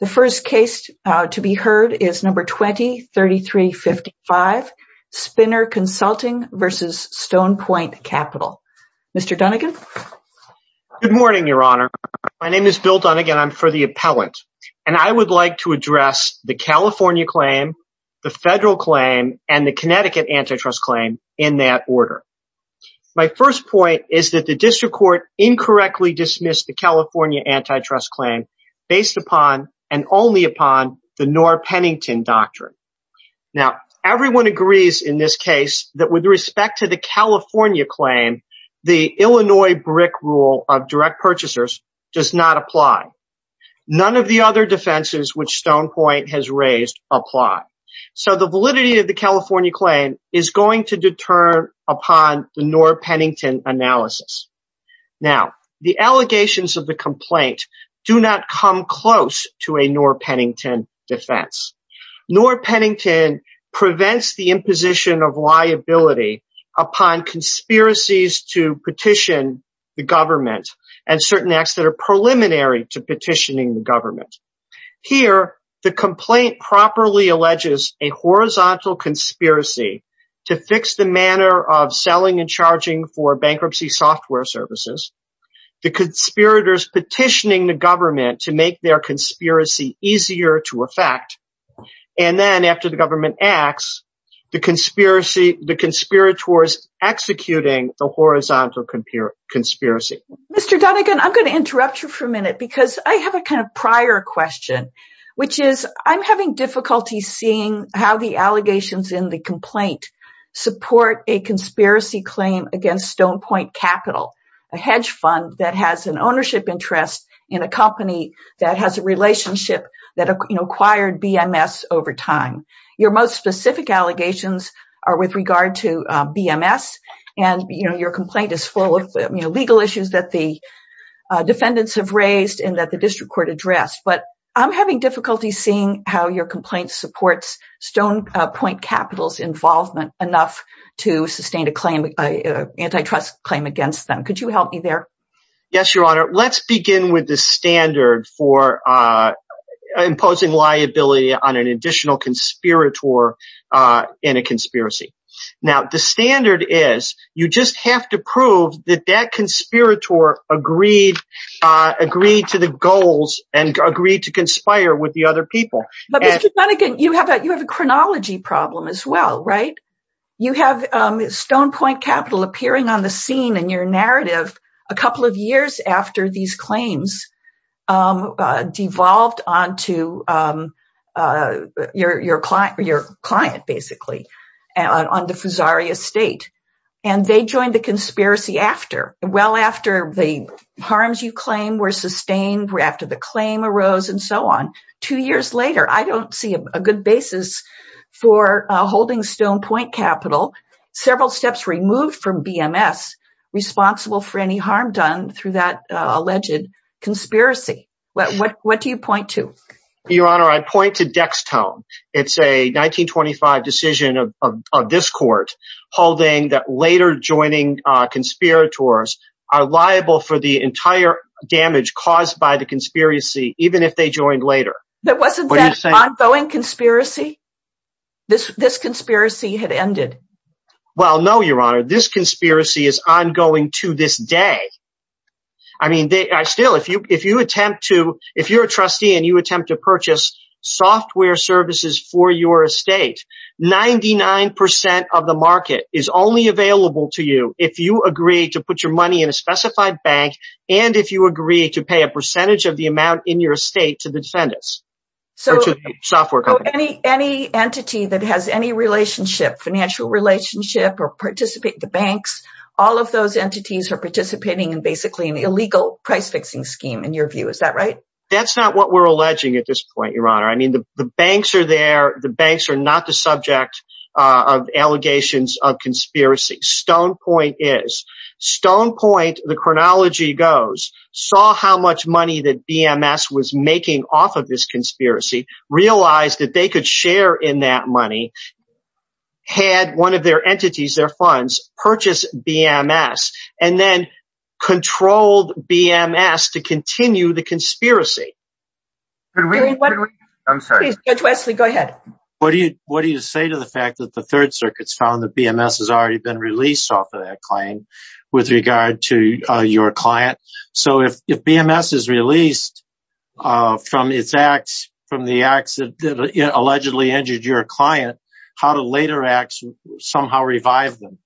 The first case to be heard is number 20-3355, Spinner Consulting v. Stone Point Capital. Mr. Dunnigan. Good morning, Your Honor. My name is Bill Dunnigan. I'm for the appellant and I would like to address the California claim, the federal claim, and the Connecticut antitrust claim in that order. My first point is that the District Court incorrectly dismissed the California antitrust claim based upon and only upon the Noor-Pennington Doctrine. Now everyone agrees in this case that with respect to the California claim, the Illinois BRIC rule of direct purchasers does not apply. None of the other defenses which Stone Point has raised apply. So the validity of the California claim is going to deter upon the Noor-Pennington analysis. Now the allegations of the complaint do not come close to a Noor-Pennington defense. Noor-Pennington prevents the imposition of liability upon conspiracies to petition the government and certain acts that are preliminary to petitioning the government. Here the complaint properly alleges a horizontal conspiracy to fix the manner of selling and charging for bankruptcy software services. The conspirators petitioning the government to make their conspiracy easier to affect and then after the government acts, the conspirators executing the horizontal conspiracy. Mr. Donegan, I'm going to interrupt you for a minute because I have a kind of prior question, which is I'm having difficulty seeing how the allegations in the complaint support a conspiracy claim against Stone Point Capital, a hedge fund that has an ownership interest in a company that has a relationship that acquired BMS over time. Your most specific allegations are with regard to BMS and your complaint is full of legal issues that the defendants have raised and that the district court addressed, but I'm having difficulty seeing how your complaint supports Stone Point Capital's involvement enough to Yes, your honor. Let's begin with the standard for imposing liability on an additional conspirator in a conspiracy. Now the standard is you just have to prove that that conspirator agreed to the goals and agreed to conspire with the other people. But Mr. Donegan, you have a chronology problem as well, right? You have Stone Point Capital appearing on the scene in your narrative a couple of years after these claims devolved onto your client, basically, on the Fusari estate, and they joined the conspiracy after, well after the harms you claim were sustained, after the claim arose, and so on. Two years later, I don't see a good basis for holding Stone Point Capital, several steps removed from through that alleged conspiracy. What do you point to? Your honor, I point to Dextone. It's a 1925 decision of this court holding that later joining conspirators are liable for the entire damage caused by the conspiracy, even if they joined later. But wasn't that an ongoing conspiracy? This conspiracy had I mean, still, if you attempt to, if you're a trustee and you attempt to purchase software services for your estate, 99% of the market is only available to you if you agree to put your money in a specified bank and if you agree to pay a percentage of the amount in your estate to the defendants. So any entity that has any relationship, financial relationship, or basically an illegal price-fixing scheme, in your view, is that right? That's not what we're alleging at this point, your honor. I mean, the banks are there, the banks are not the subject of allegations of conspiracy. Stone Point is. Stone Point, the chronology goes, saw how much money that BMS was making off of this conspiracy, realized that they could share in that money, had one of their entities, their funds, purchase BMS, and then controlled BMS to continue the conspiracy. Judge Wesley, go ahead. What do you say to the fact that the Third Circuit's found that BMS has already been released off of that claim with regard to your client? So if BMS is released from its acts, from the acts that allegedly injured your client, how do later acts somehow revive them?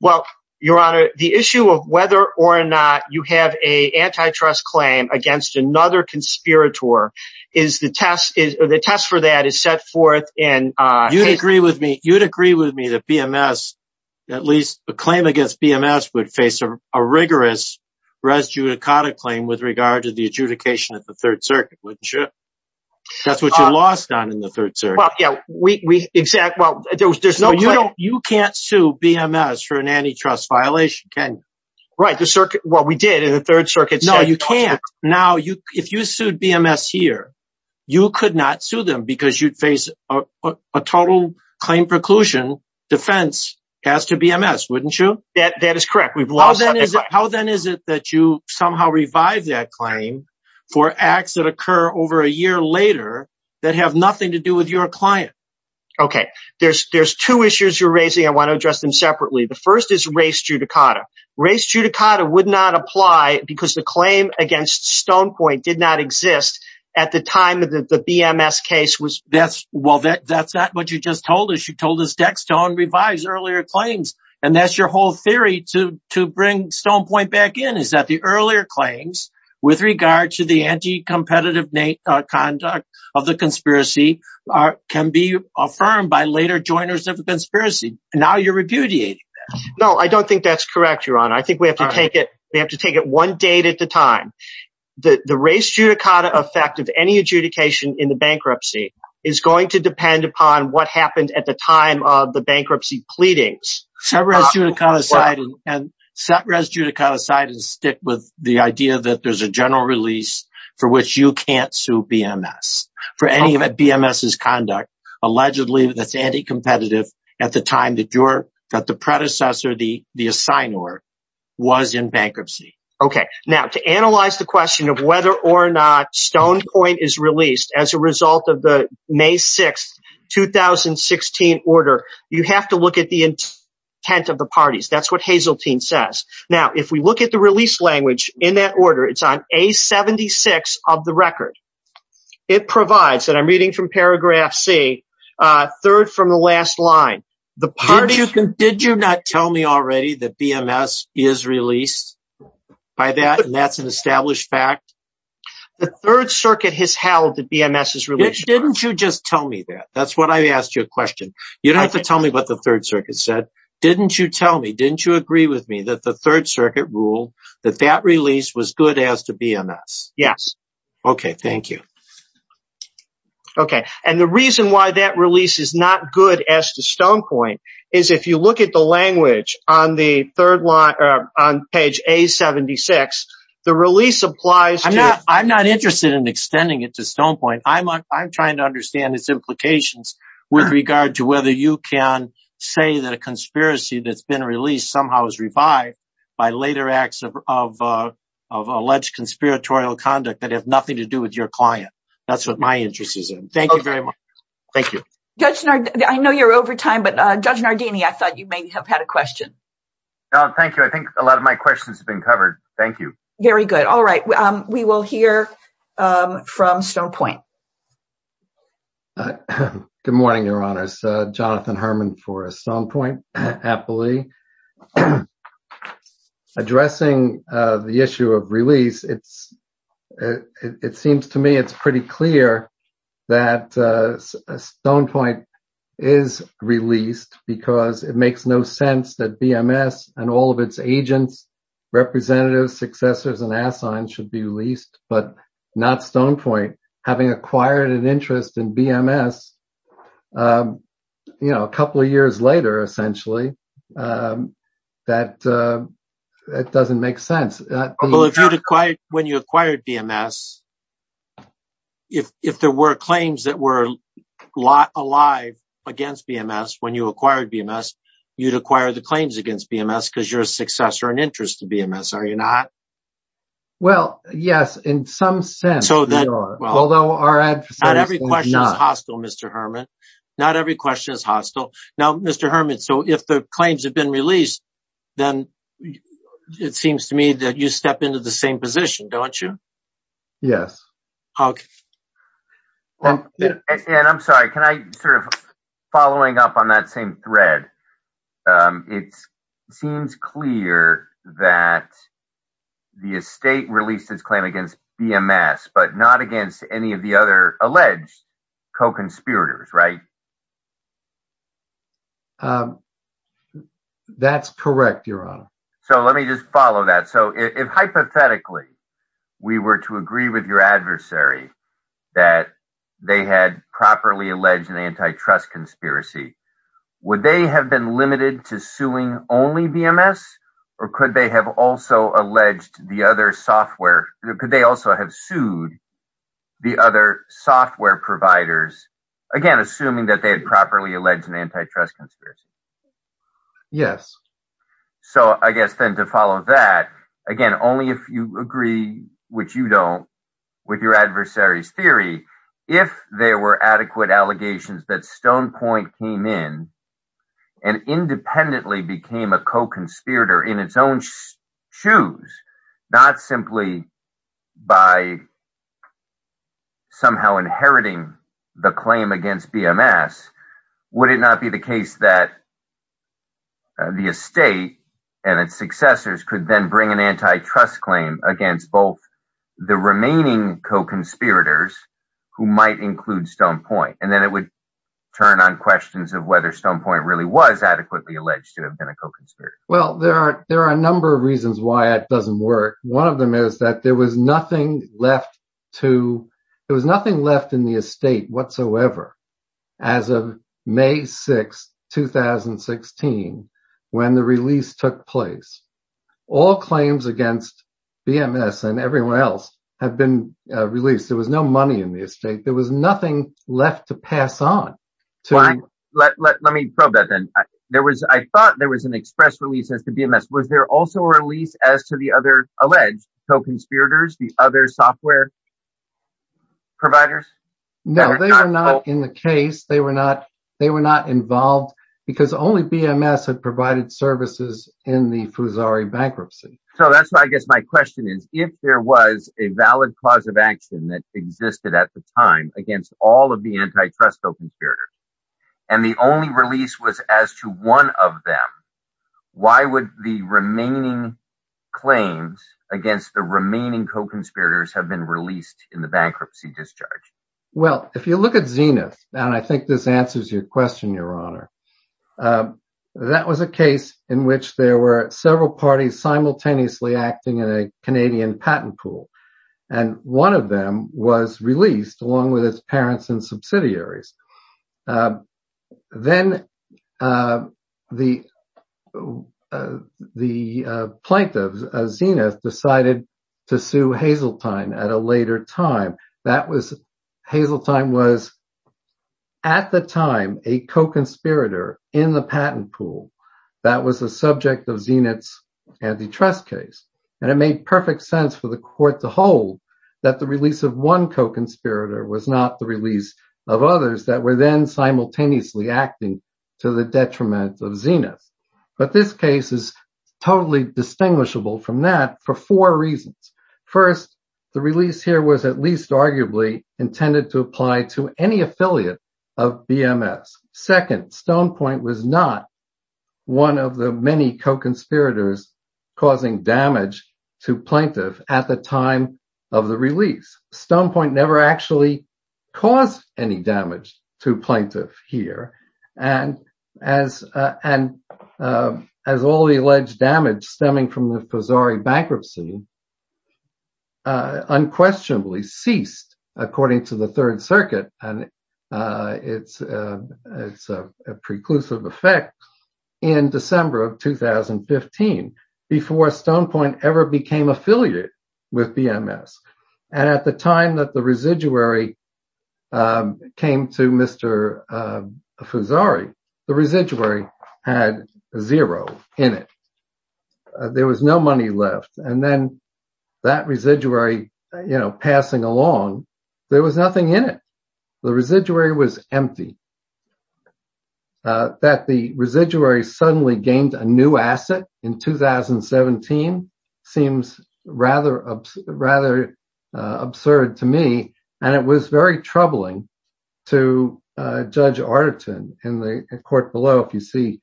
Well, your honor, the issue of whether or not you have a antitrust claim against another conspirator, the test for that is set forth in... You'd agree with me, you'd agree with me that BMS, at least a claim against BMS, would face a rigorous res judicata claim with regard to the adjudication at the Third Circuit, wouldn't you? That's what you lost on in the Third Circuit. You can't sue BMS for an antitrust violation, can you? Right, well we did in the Third Circuit. No, you can't. Now, if you sued BMS here, you could not sue them because you'd face a total claim preclusion defense as to BMS, wouldn't you? That is correct. How then is it that you somehow revive that claim for acts that occur over a year later that have nothing to do with your client? Okay, there's two issues you're raising I want to address them separately. The first is res judicata. Res judicata would not apply because the claim against Stonepoint did not exist at the time of the BMS case. Well, that's not what you just told us. You told us Dextone revives earlier claims and that's your whole theory to bring Stonepoint back in is that the earlier claims with regard to the anti-competitive conduct of the conspiracy can be affirmed by later joiners of the conspiracy. Now you're repudiating that. No, I don't think that's correct, Your Honor. I think we have to take it we have to take it one date at the time. The res judicata effect of any adjudication in the bankruptcy is going to depend upon what happened at the time of the bankruptcy pleadings. Set res judicata aside and stick with the idea that there's a general release for which you can't sue BMS for any of BMS' conduct allegedly that's anti-competitive at the time that the predecessor, the assignor, was in bankruptcy. Okay, now to analyze the question of whether or not Stonepoint is released as a result of the May 6th 2016 order, you have to look at the intent of the parties. That's what Hazeltine says. Now if we look at the release language in that order, it's on a 76 of the record. It provides, and I'm reading from paragraph C, third from the last line. Did you not tell me already that BMS is released by that and that's an established fact? The Third Circuit has held that BMS is released. Didn't you just tell me that? That's what I asked you a question. You don't have to tell me what the Third Circuit said. Didn't you tell me, didn't you agree with me that the Third Circuit ruled that that release was good as to BMS? Yes. Okay, thank you. Okay, and the reason why that release is not good as to Stonepoint is if you look at the language on the third line, on page A76, the release applies. I'm not interested in extending it to Stonepoint. I'm trying to understand its implications with regard to whether you can say that a conspiracy that's been released somehow is revived by later acts of alleged conspiratorial conduct that have nothing to do with your client. That's what my interest is in. Thank you very much. Thank you. Judge Nardini, I know you're over time, but Judge Nardini, I thought you may have had a question. No, thank you. I think a lot of my questions have been covered. Thank you. Very good. All right, we will hear from Stonepoint. Good morning, Your Honors. Jonathan Herman for Stonepoint, aptly. Addressing the issue of release, it seems to me it's pretty clear that Stonepoint is released because it makes no sense that BMS and all of its agents, representatives, successors, and assigns should be released, but not Stonepoint. Having acquired an interest in BMS, you know, a couple of years later, essentially, that it doesn't make sense. Well, if you'd acquired, when you acquired BMS, if there were claims that were alive against BMS when you acquired BMS, you'd acquire the claims against BMS because you're a successor and interest to BMS, are you not? Well, yes, in some sense. Although our advocacy is not. Not every question is hostile, Mr. Herman. Not every question is hostile. Now, Mr. Herman, so if the claims have been released, then it seems to me that you step into the same position, don't you? Yes. Okay. And I'm sorry, can I, sort of, following up on that same thread, it seems clear that the estate released its claim against BMS, but not against any of the other alleged co-conspirators, right? That's correct, Your Honor. So, let me just follow that. So, if, hypothetically, we were to agree with your adversary that they had properly alleged an antitrust conspiracy, would they have been limited to suing only BMS, or could they have also alleged the other software, could they also have sued the other software providers, again, assuming that they had properly alleged an antitrust conspiracy? Yes. So, I guess, then, to follow that, again, only if you agree, which you don't, with your adversary's adequate allegations that Stonepoint came in and independently became a co-conspirator in its own shoes, not simply by somehow inheriting the claim against BMS, would it not be the case that the estate and its successors could then bring an antitrust claim against both the remaining co-conspirators who might include Stonepoint? And then it would turn on questions of whether Stonepoint really was adequately alleged to have been a co-conspirator. Well, there are a number of reasons why it doesn't work. One of them is that there was nothing left in the estate whatsoever as of May 6th, 2016, when the release took place. All claims against BMS and everyone else have been released. There was no money in the estate. There was nothing left to pass on. Let me probe that then. I thought there was an express release as to BMS. Was there also a release as to the other alleged co-conspirators, the other software providers? No, they were not in the case. They were not involved because only BMS had provided services in the Fusari bankruptcy. So, that's why I guess my question is, if there was a valid cause of action that existed at the time against all of the antitrust co-conspirators, and the only release was as to one of them, why would the remaining claims against the remaining co-conspirators have been released in the bankruptcy discharge? Well, if you look at Zenith, and I think this answers your question, Your Honor, that was a case in which there were several parties simultaneously acting in a Canadian patent pool, and one of them was released along with his parents and subsidiaries. Then the plaintiff, Zenith, decided to sue Hazeltine at a later patent pool. That was the subject of Zenith's antitrust case, and it made perfect sense for the court to hold that the release of one co-conspirator was not the release of others that were then simultaneously acting to the detriment of Zenith. But this case is totally distinguishable from that for four reasons. First, the release here was at least arguably intended to apply to any co-conspirators. Stone Point was not one of the many co-conspirators causing damage to plaintiff at the time of the release. Stone Point never actually caused any damage to plaintiff here, and as all the alleged damage stemming from the Pozzari bankruptcy unquestionably ceased according to the reclusive effect in December of 2015 before Stone Point ever became affiliated with BMS. At the time that the residuary came to Mr. Pozzari, the residuary had zero in it. There was no money left, and then that the residuary suddenly gained a new asset in 2017 seems rather absurd to me, and it was very troubling to Judge Artiton in the court below, if you see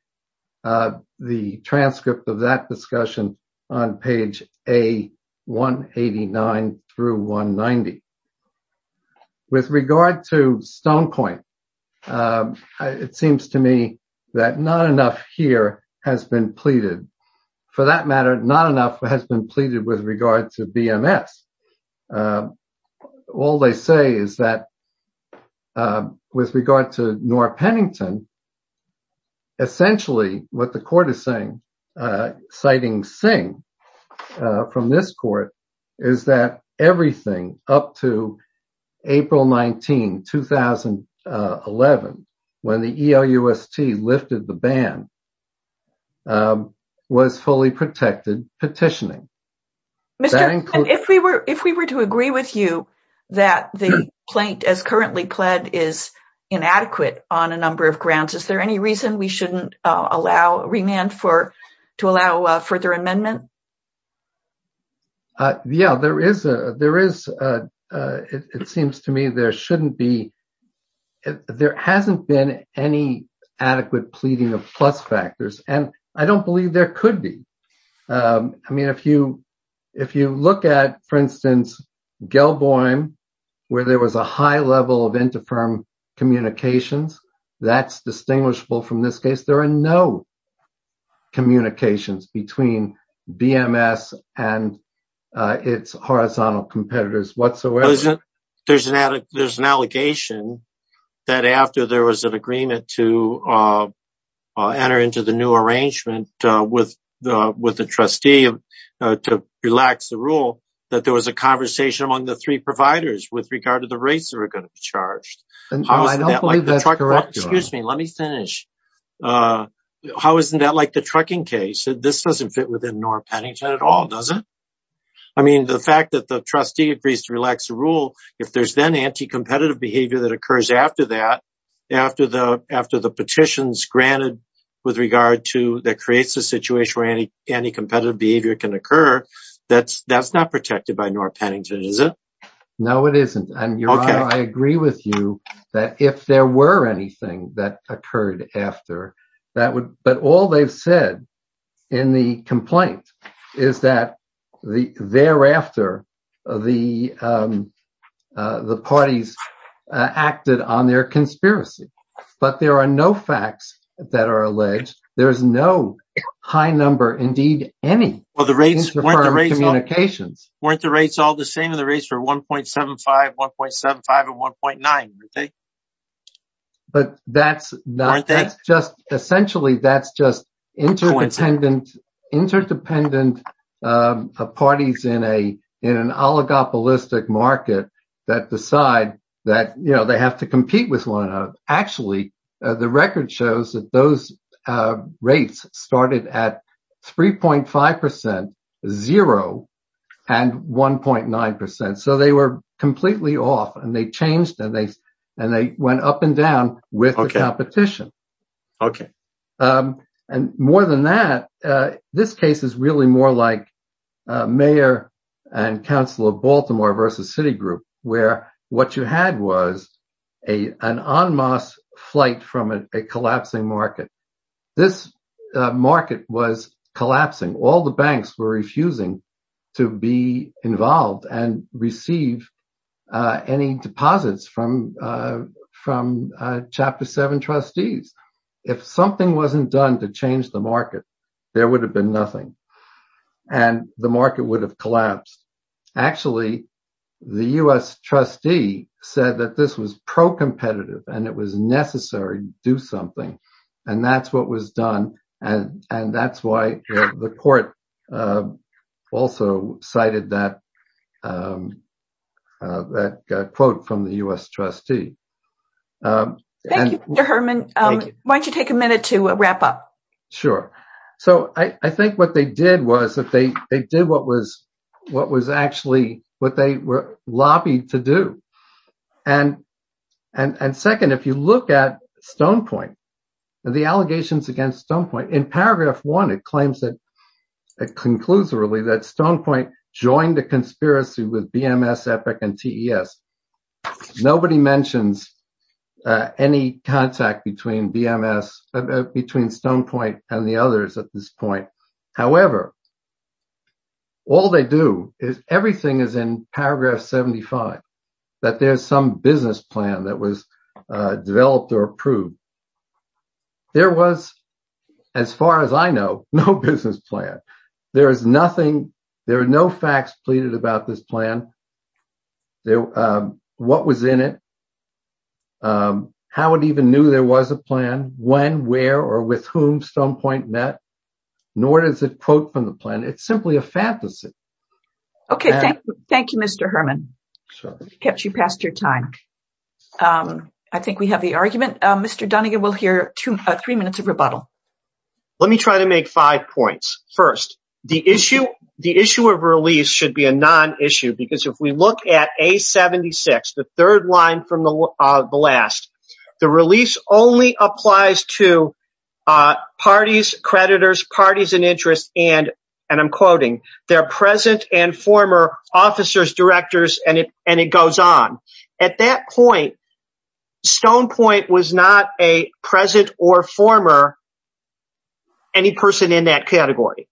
the transcript of that discussion on page A189 through A190. With regard to that not enough here has been pleaded. For that matter, not enough has been pleaded with regard to BMS. All they say is that with regard to Nora Pennington, essentially what the court is saying, citing Singh from this court, is that everything up to April 19, 2011, when the ELUST lifted the ban, was fully protected petitioning. If we were to agree with you that the plaint as currently pled is inadequate on a number of grounds, is there any reason we shouldn't allow, remand for, to allow further amendment? Yeah, there is. It seems to me there shouldn't be, there hasn't been any adequate pleading of plus factors, and I don't believe there could be. I mean, if you look at, for instance, Gelboim, where there was a high level of interfirm communications, that's distinguishable from this case. There are no communications between BMS and its horizontal competitors whatsoever. There's an allegation that after there was an agreement to enter into the new arrangement with the trustee to relax the rule, that there was a conversation among the three providers with regard to the rates that were going to be How isn't that like the trucking case? This doesn't fit within Norr Pennington at all, does it? I mean, the fact that the trustee agrees to relax the rule, if there's then anti-competitive behavior that occurs after that, after the petitions granted with regard to, that creates a situation where anti-competitive behavior can occur, that's not protected by Norr Pennington, is it? No, it isn't, and Your Honor, I agree with you that if there were anything that would, but all they've said in the complaint is that thereafter, the parties acted on their conspiracy, but there are no facts that are alleged. There's no high number, indeed any, of interfirm communications. Weren't the rates all the same? The rates were 1.75, 1.75, and 1.9, were they? But that's not, that's just essentially, that's just interdependent parties in an oligopolistic market that decide that, you know, they have to compete with one another. Actually, the record shows that those rates started at 3.5 percent, zero, and 1.9 percent, so they were completely off, and they changed, and they went up and down with the competition, and more than that, this case is really more like Mayor and Council of Baltimore versus Citigroup, where what you had was an en masse flight from a collapsing market. This market was collapsing. All the banks were refusing to be involved and receive any deposits from Chapter 7 trustees. If something wasn't done to change the market, there would have been nothing, and the market would have collapsed. Actually, the U.S. trustee said that this was pro-competitive, and it was necessary to do something, and that's what was done, and that's why the court also cited that quote from the U.S. trustee. Thank you, Mr. Herman. Why don't you take a minute to wrap up? Sure. So, I think what they did was, they did what was actually what they were lobbied to do, and second, if you look at Stone Point, the allegations against Stone Point, in paragraph 1, it claims that, conclusively, that Stone Point joined a conspiracy with BMS, Epic, and TES. Nobody mentions any contact between BMS, between Stone Point and the others at this point. However, all they do is, everything is in paragraph 75, that there's some business plan that was as far as I know, no business plan. There is nothing, there are no facts pleaded about this plan, what was in it, how it even knew there was a plan, when, where, or with whom Stone Point met, nor does it quote from the plan. It's simply a fantasy. Okay, thank you, Mr. Herman. Kept you past your time. I think we have the Let me try to make five points. First, the issue of release should be a non-issue, because if we look at A76, the third line from the last, the release only applies to parties, creditors, parties in interest, and I'm quoting, their present and former officers, directors, and it goes on. At that point, Stone Point was not a present or former any person in that category.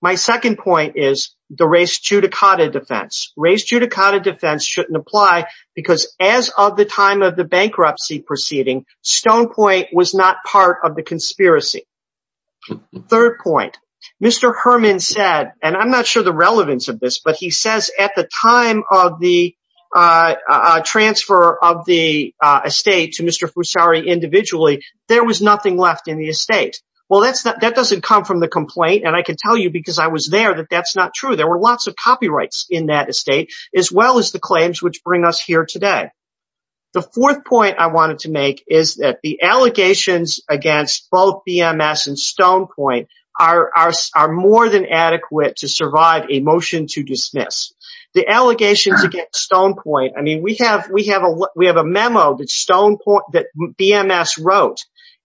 My second point is the res judicata defense. Res judicata defense shouldn't apply, because as of the time of the bankruptcy proceeding, Stone Point was not part of the conspiracy. Third point, Mr. Herman said, and I'm not sure the relevance of this, but he says at the time of the transfer of the estate to Mr. Fusari individually, there was nothing left in the estate. Well, that doesn't come from the complaint, and I can tell you because I was there that that's not true. There were lots of copyrights in that estate, as well as the claims which bring us here today. The fourth point I wanted to make is that the allegations against both BMS and Stone Point are more than adequate to survive a motion to dismiss. The allegations against Stone Point, I mean, we have a memo that BMS wrote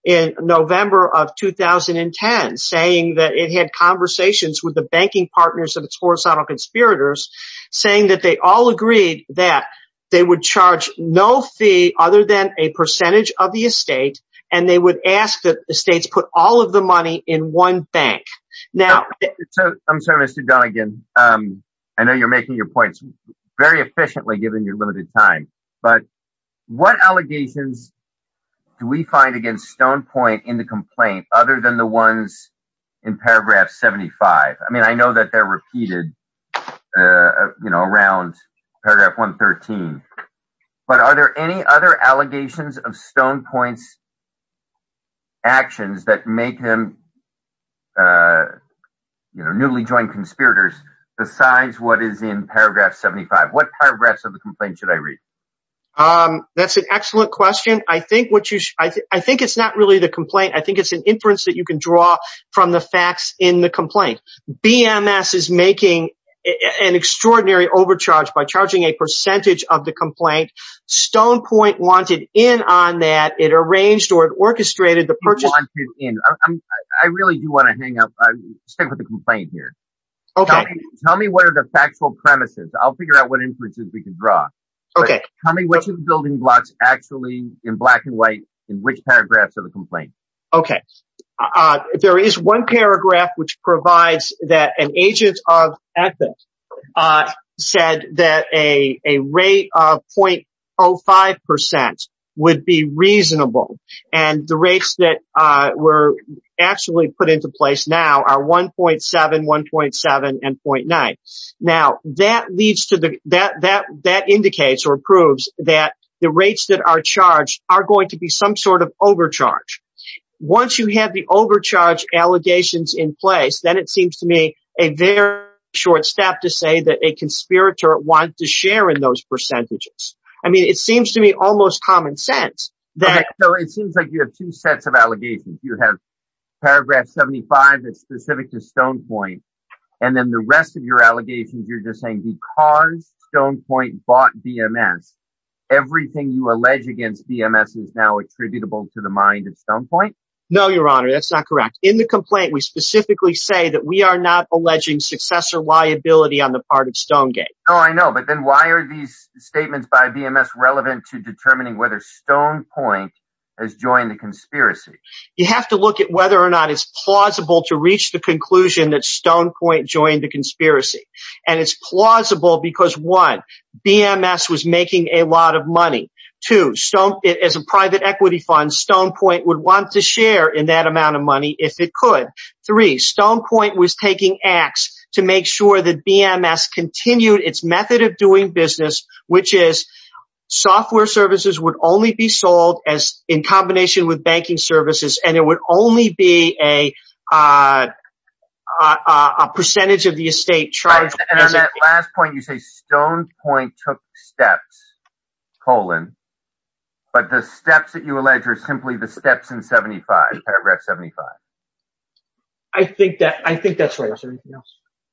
in November of 2010 saying that it had conversations with the banking partners of its horizontal conspirators saying that they all agreed that they would charge no fee other than a percentage of the estate, and they would ask that the states put all of the money in one bank. Now, I'm sorry, Mr. Donegan, I know you're making your points very efficiently given your limited time, but what allegations do we find against Stone Point in the complaint other than the ones in paragraph 75? I mean, I know that they're repeated, you know, around paragraph 113, but are there any other allegations of Stone Point's actions that make them, uh, you know, newly joined conspirators besides what is in paragraph 75? What paragraphs of the complaint should I read? Um, that's an excellent question. I think what you, I think it's not really the complaint. I think it's an inference that you can draw from the facts in the complaint. BMS is making an extraordinary overcharge by charging a percentage of the complaint. Stone Point wanted in on that. It arranged or it orchestrated the in. I really do want to hang up. Stay with the complaint here. Okay. Tell me what are the factual premises. I'll figure out what inferences we can draw. Okay. Tell me which of the building blocks actually in black and white in which paragraphs of the complaint. Okay. Uh, there is one paragraph which provides that an agent of ethics, uh, said that a, a rate of 0.05% would be reasonable and the rates that, uh, were actually put into place now are 1.7, 1.7 and 0.9. Now that leads to the, that, that, that indicates or proves that the rates that are charged are going to be some sort of overcharge. Once you have the overcharge allegations in place, then it seems to me a very short step to say that a conspirator wants to share in those percentages. I mean, it seems to me almost common sense that. So it seems like you have two sets of allegations. You have paragraph 75 that's specific to Stone Point. And then the rest of your allegations, you're just saying because Stone Point bought DMS, everything you allege against DMS is now attributable to the mind of Stone Point. No, your honor, that's not correct. In the complaint, we specifically say that we are not alleging successor liability on the part of Stonegate. Oh, I know. But then why are these statements by DMS relevant to determining whether Stone Point has joined the conspiracy? You have to look at whether or not it's plausible to reach the conclusion that Stone Point joined the conspiracy. And it's plausible because one, DMS was making a lot of money. Two, Stone, as a private equity fund, Stone Point would want to share in that amount of money if it could. Three, Stone Point was taking acts to make sure that DMS continued its method of doing business, which is software services would only be sold as in combination with banking services, and it would only be a percentage of the estate. And that last point, you say Stone Point took steps, colon. But the steps that you allege are simply the steps in 75, paragraph 75. I think that I think that's right.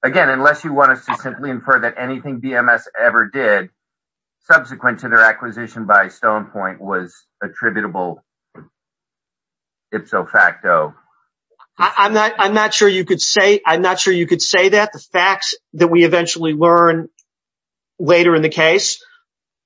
Again, unless you want us to simply infer that anything DMS ever did subsequent to their acquisition by Stone Point was attributable ipso facto. I'm not I'm not sure you could say I'm not sure you could say that the facts that we eventually learn later in the case,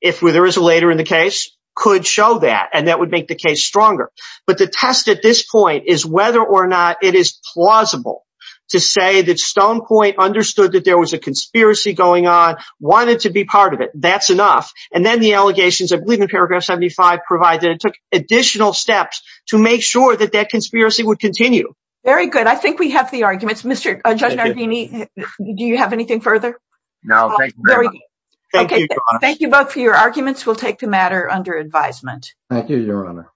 if there is a later in the case, could show that and that would make the case stronger. But the test at this point is whether or not it is plausible to say that Stone Point understood that there was a conspiracy going on, wanted to be part of it. That's enough. And then the allegations of leaving paragraph 75 provided took additional steps to make sure that that conspiracy would continue. Very good. I think we have the arguments, Mr. Judge. Do you have anything further? No. Okay. Thank you both for your arguments. We'll take the matter under advisement. Thank you, Your Honor.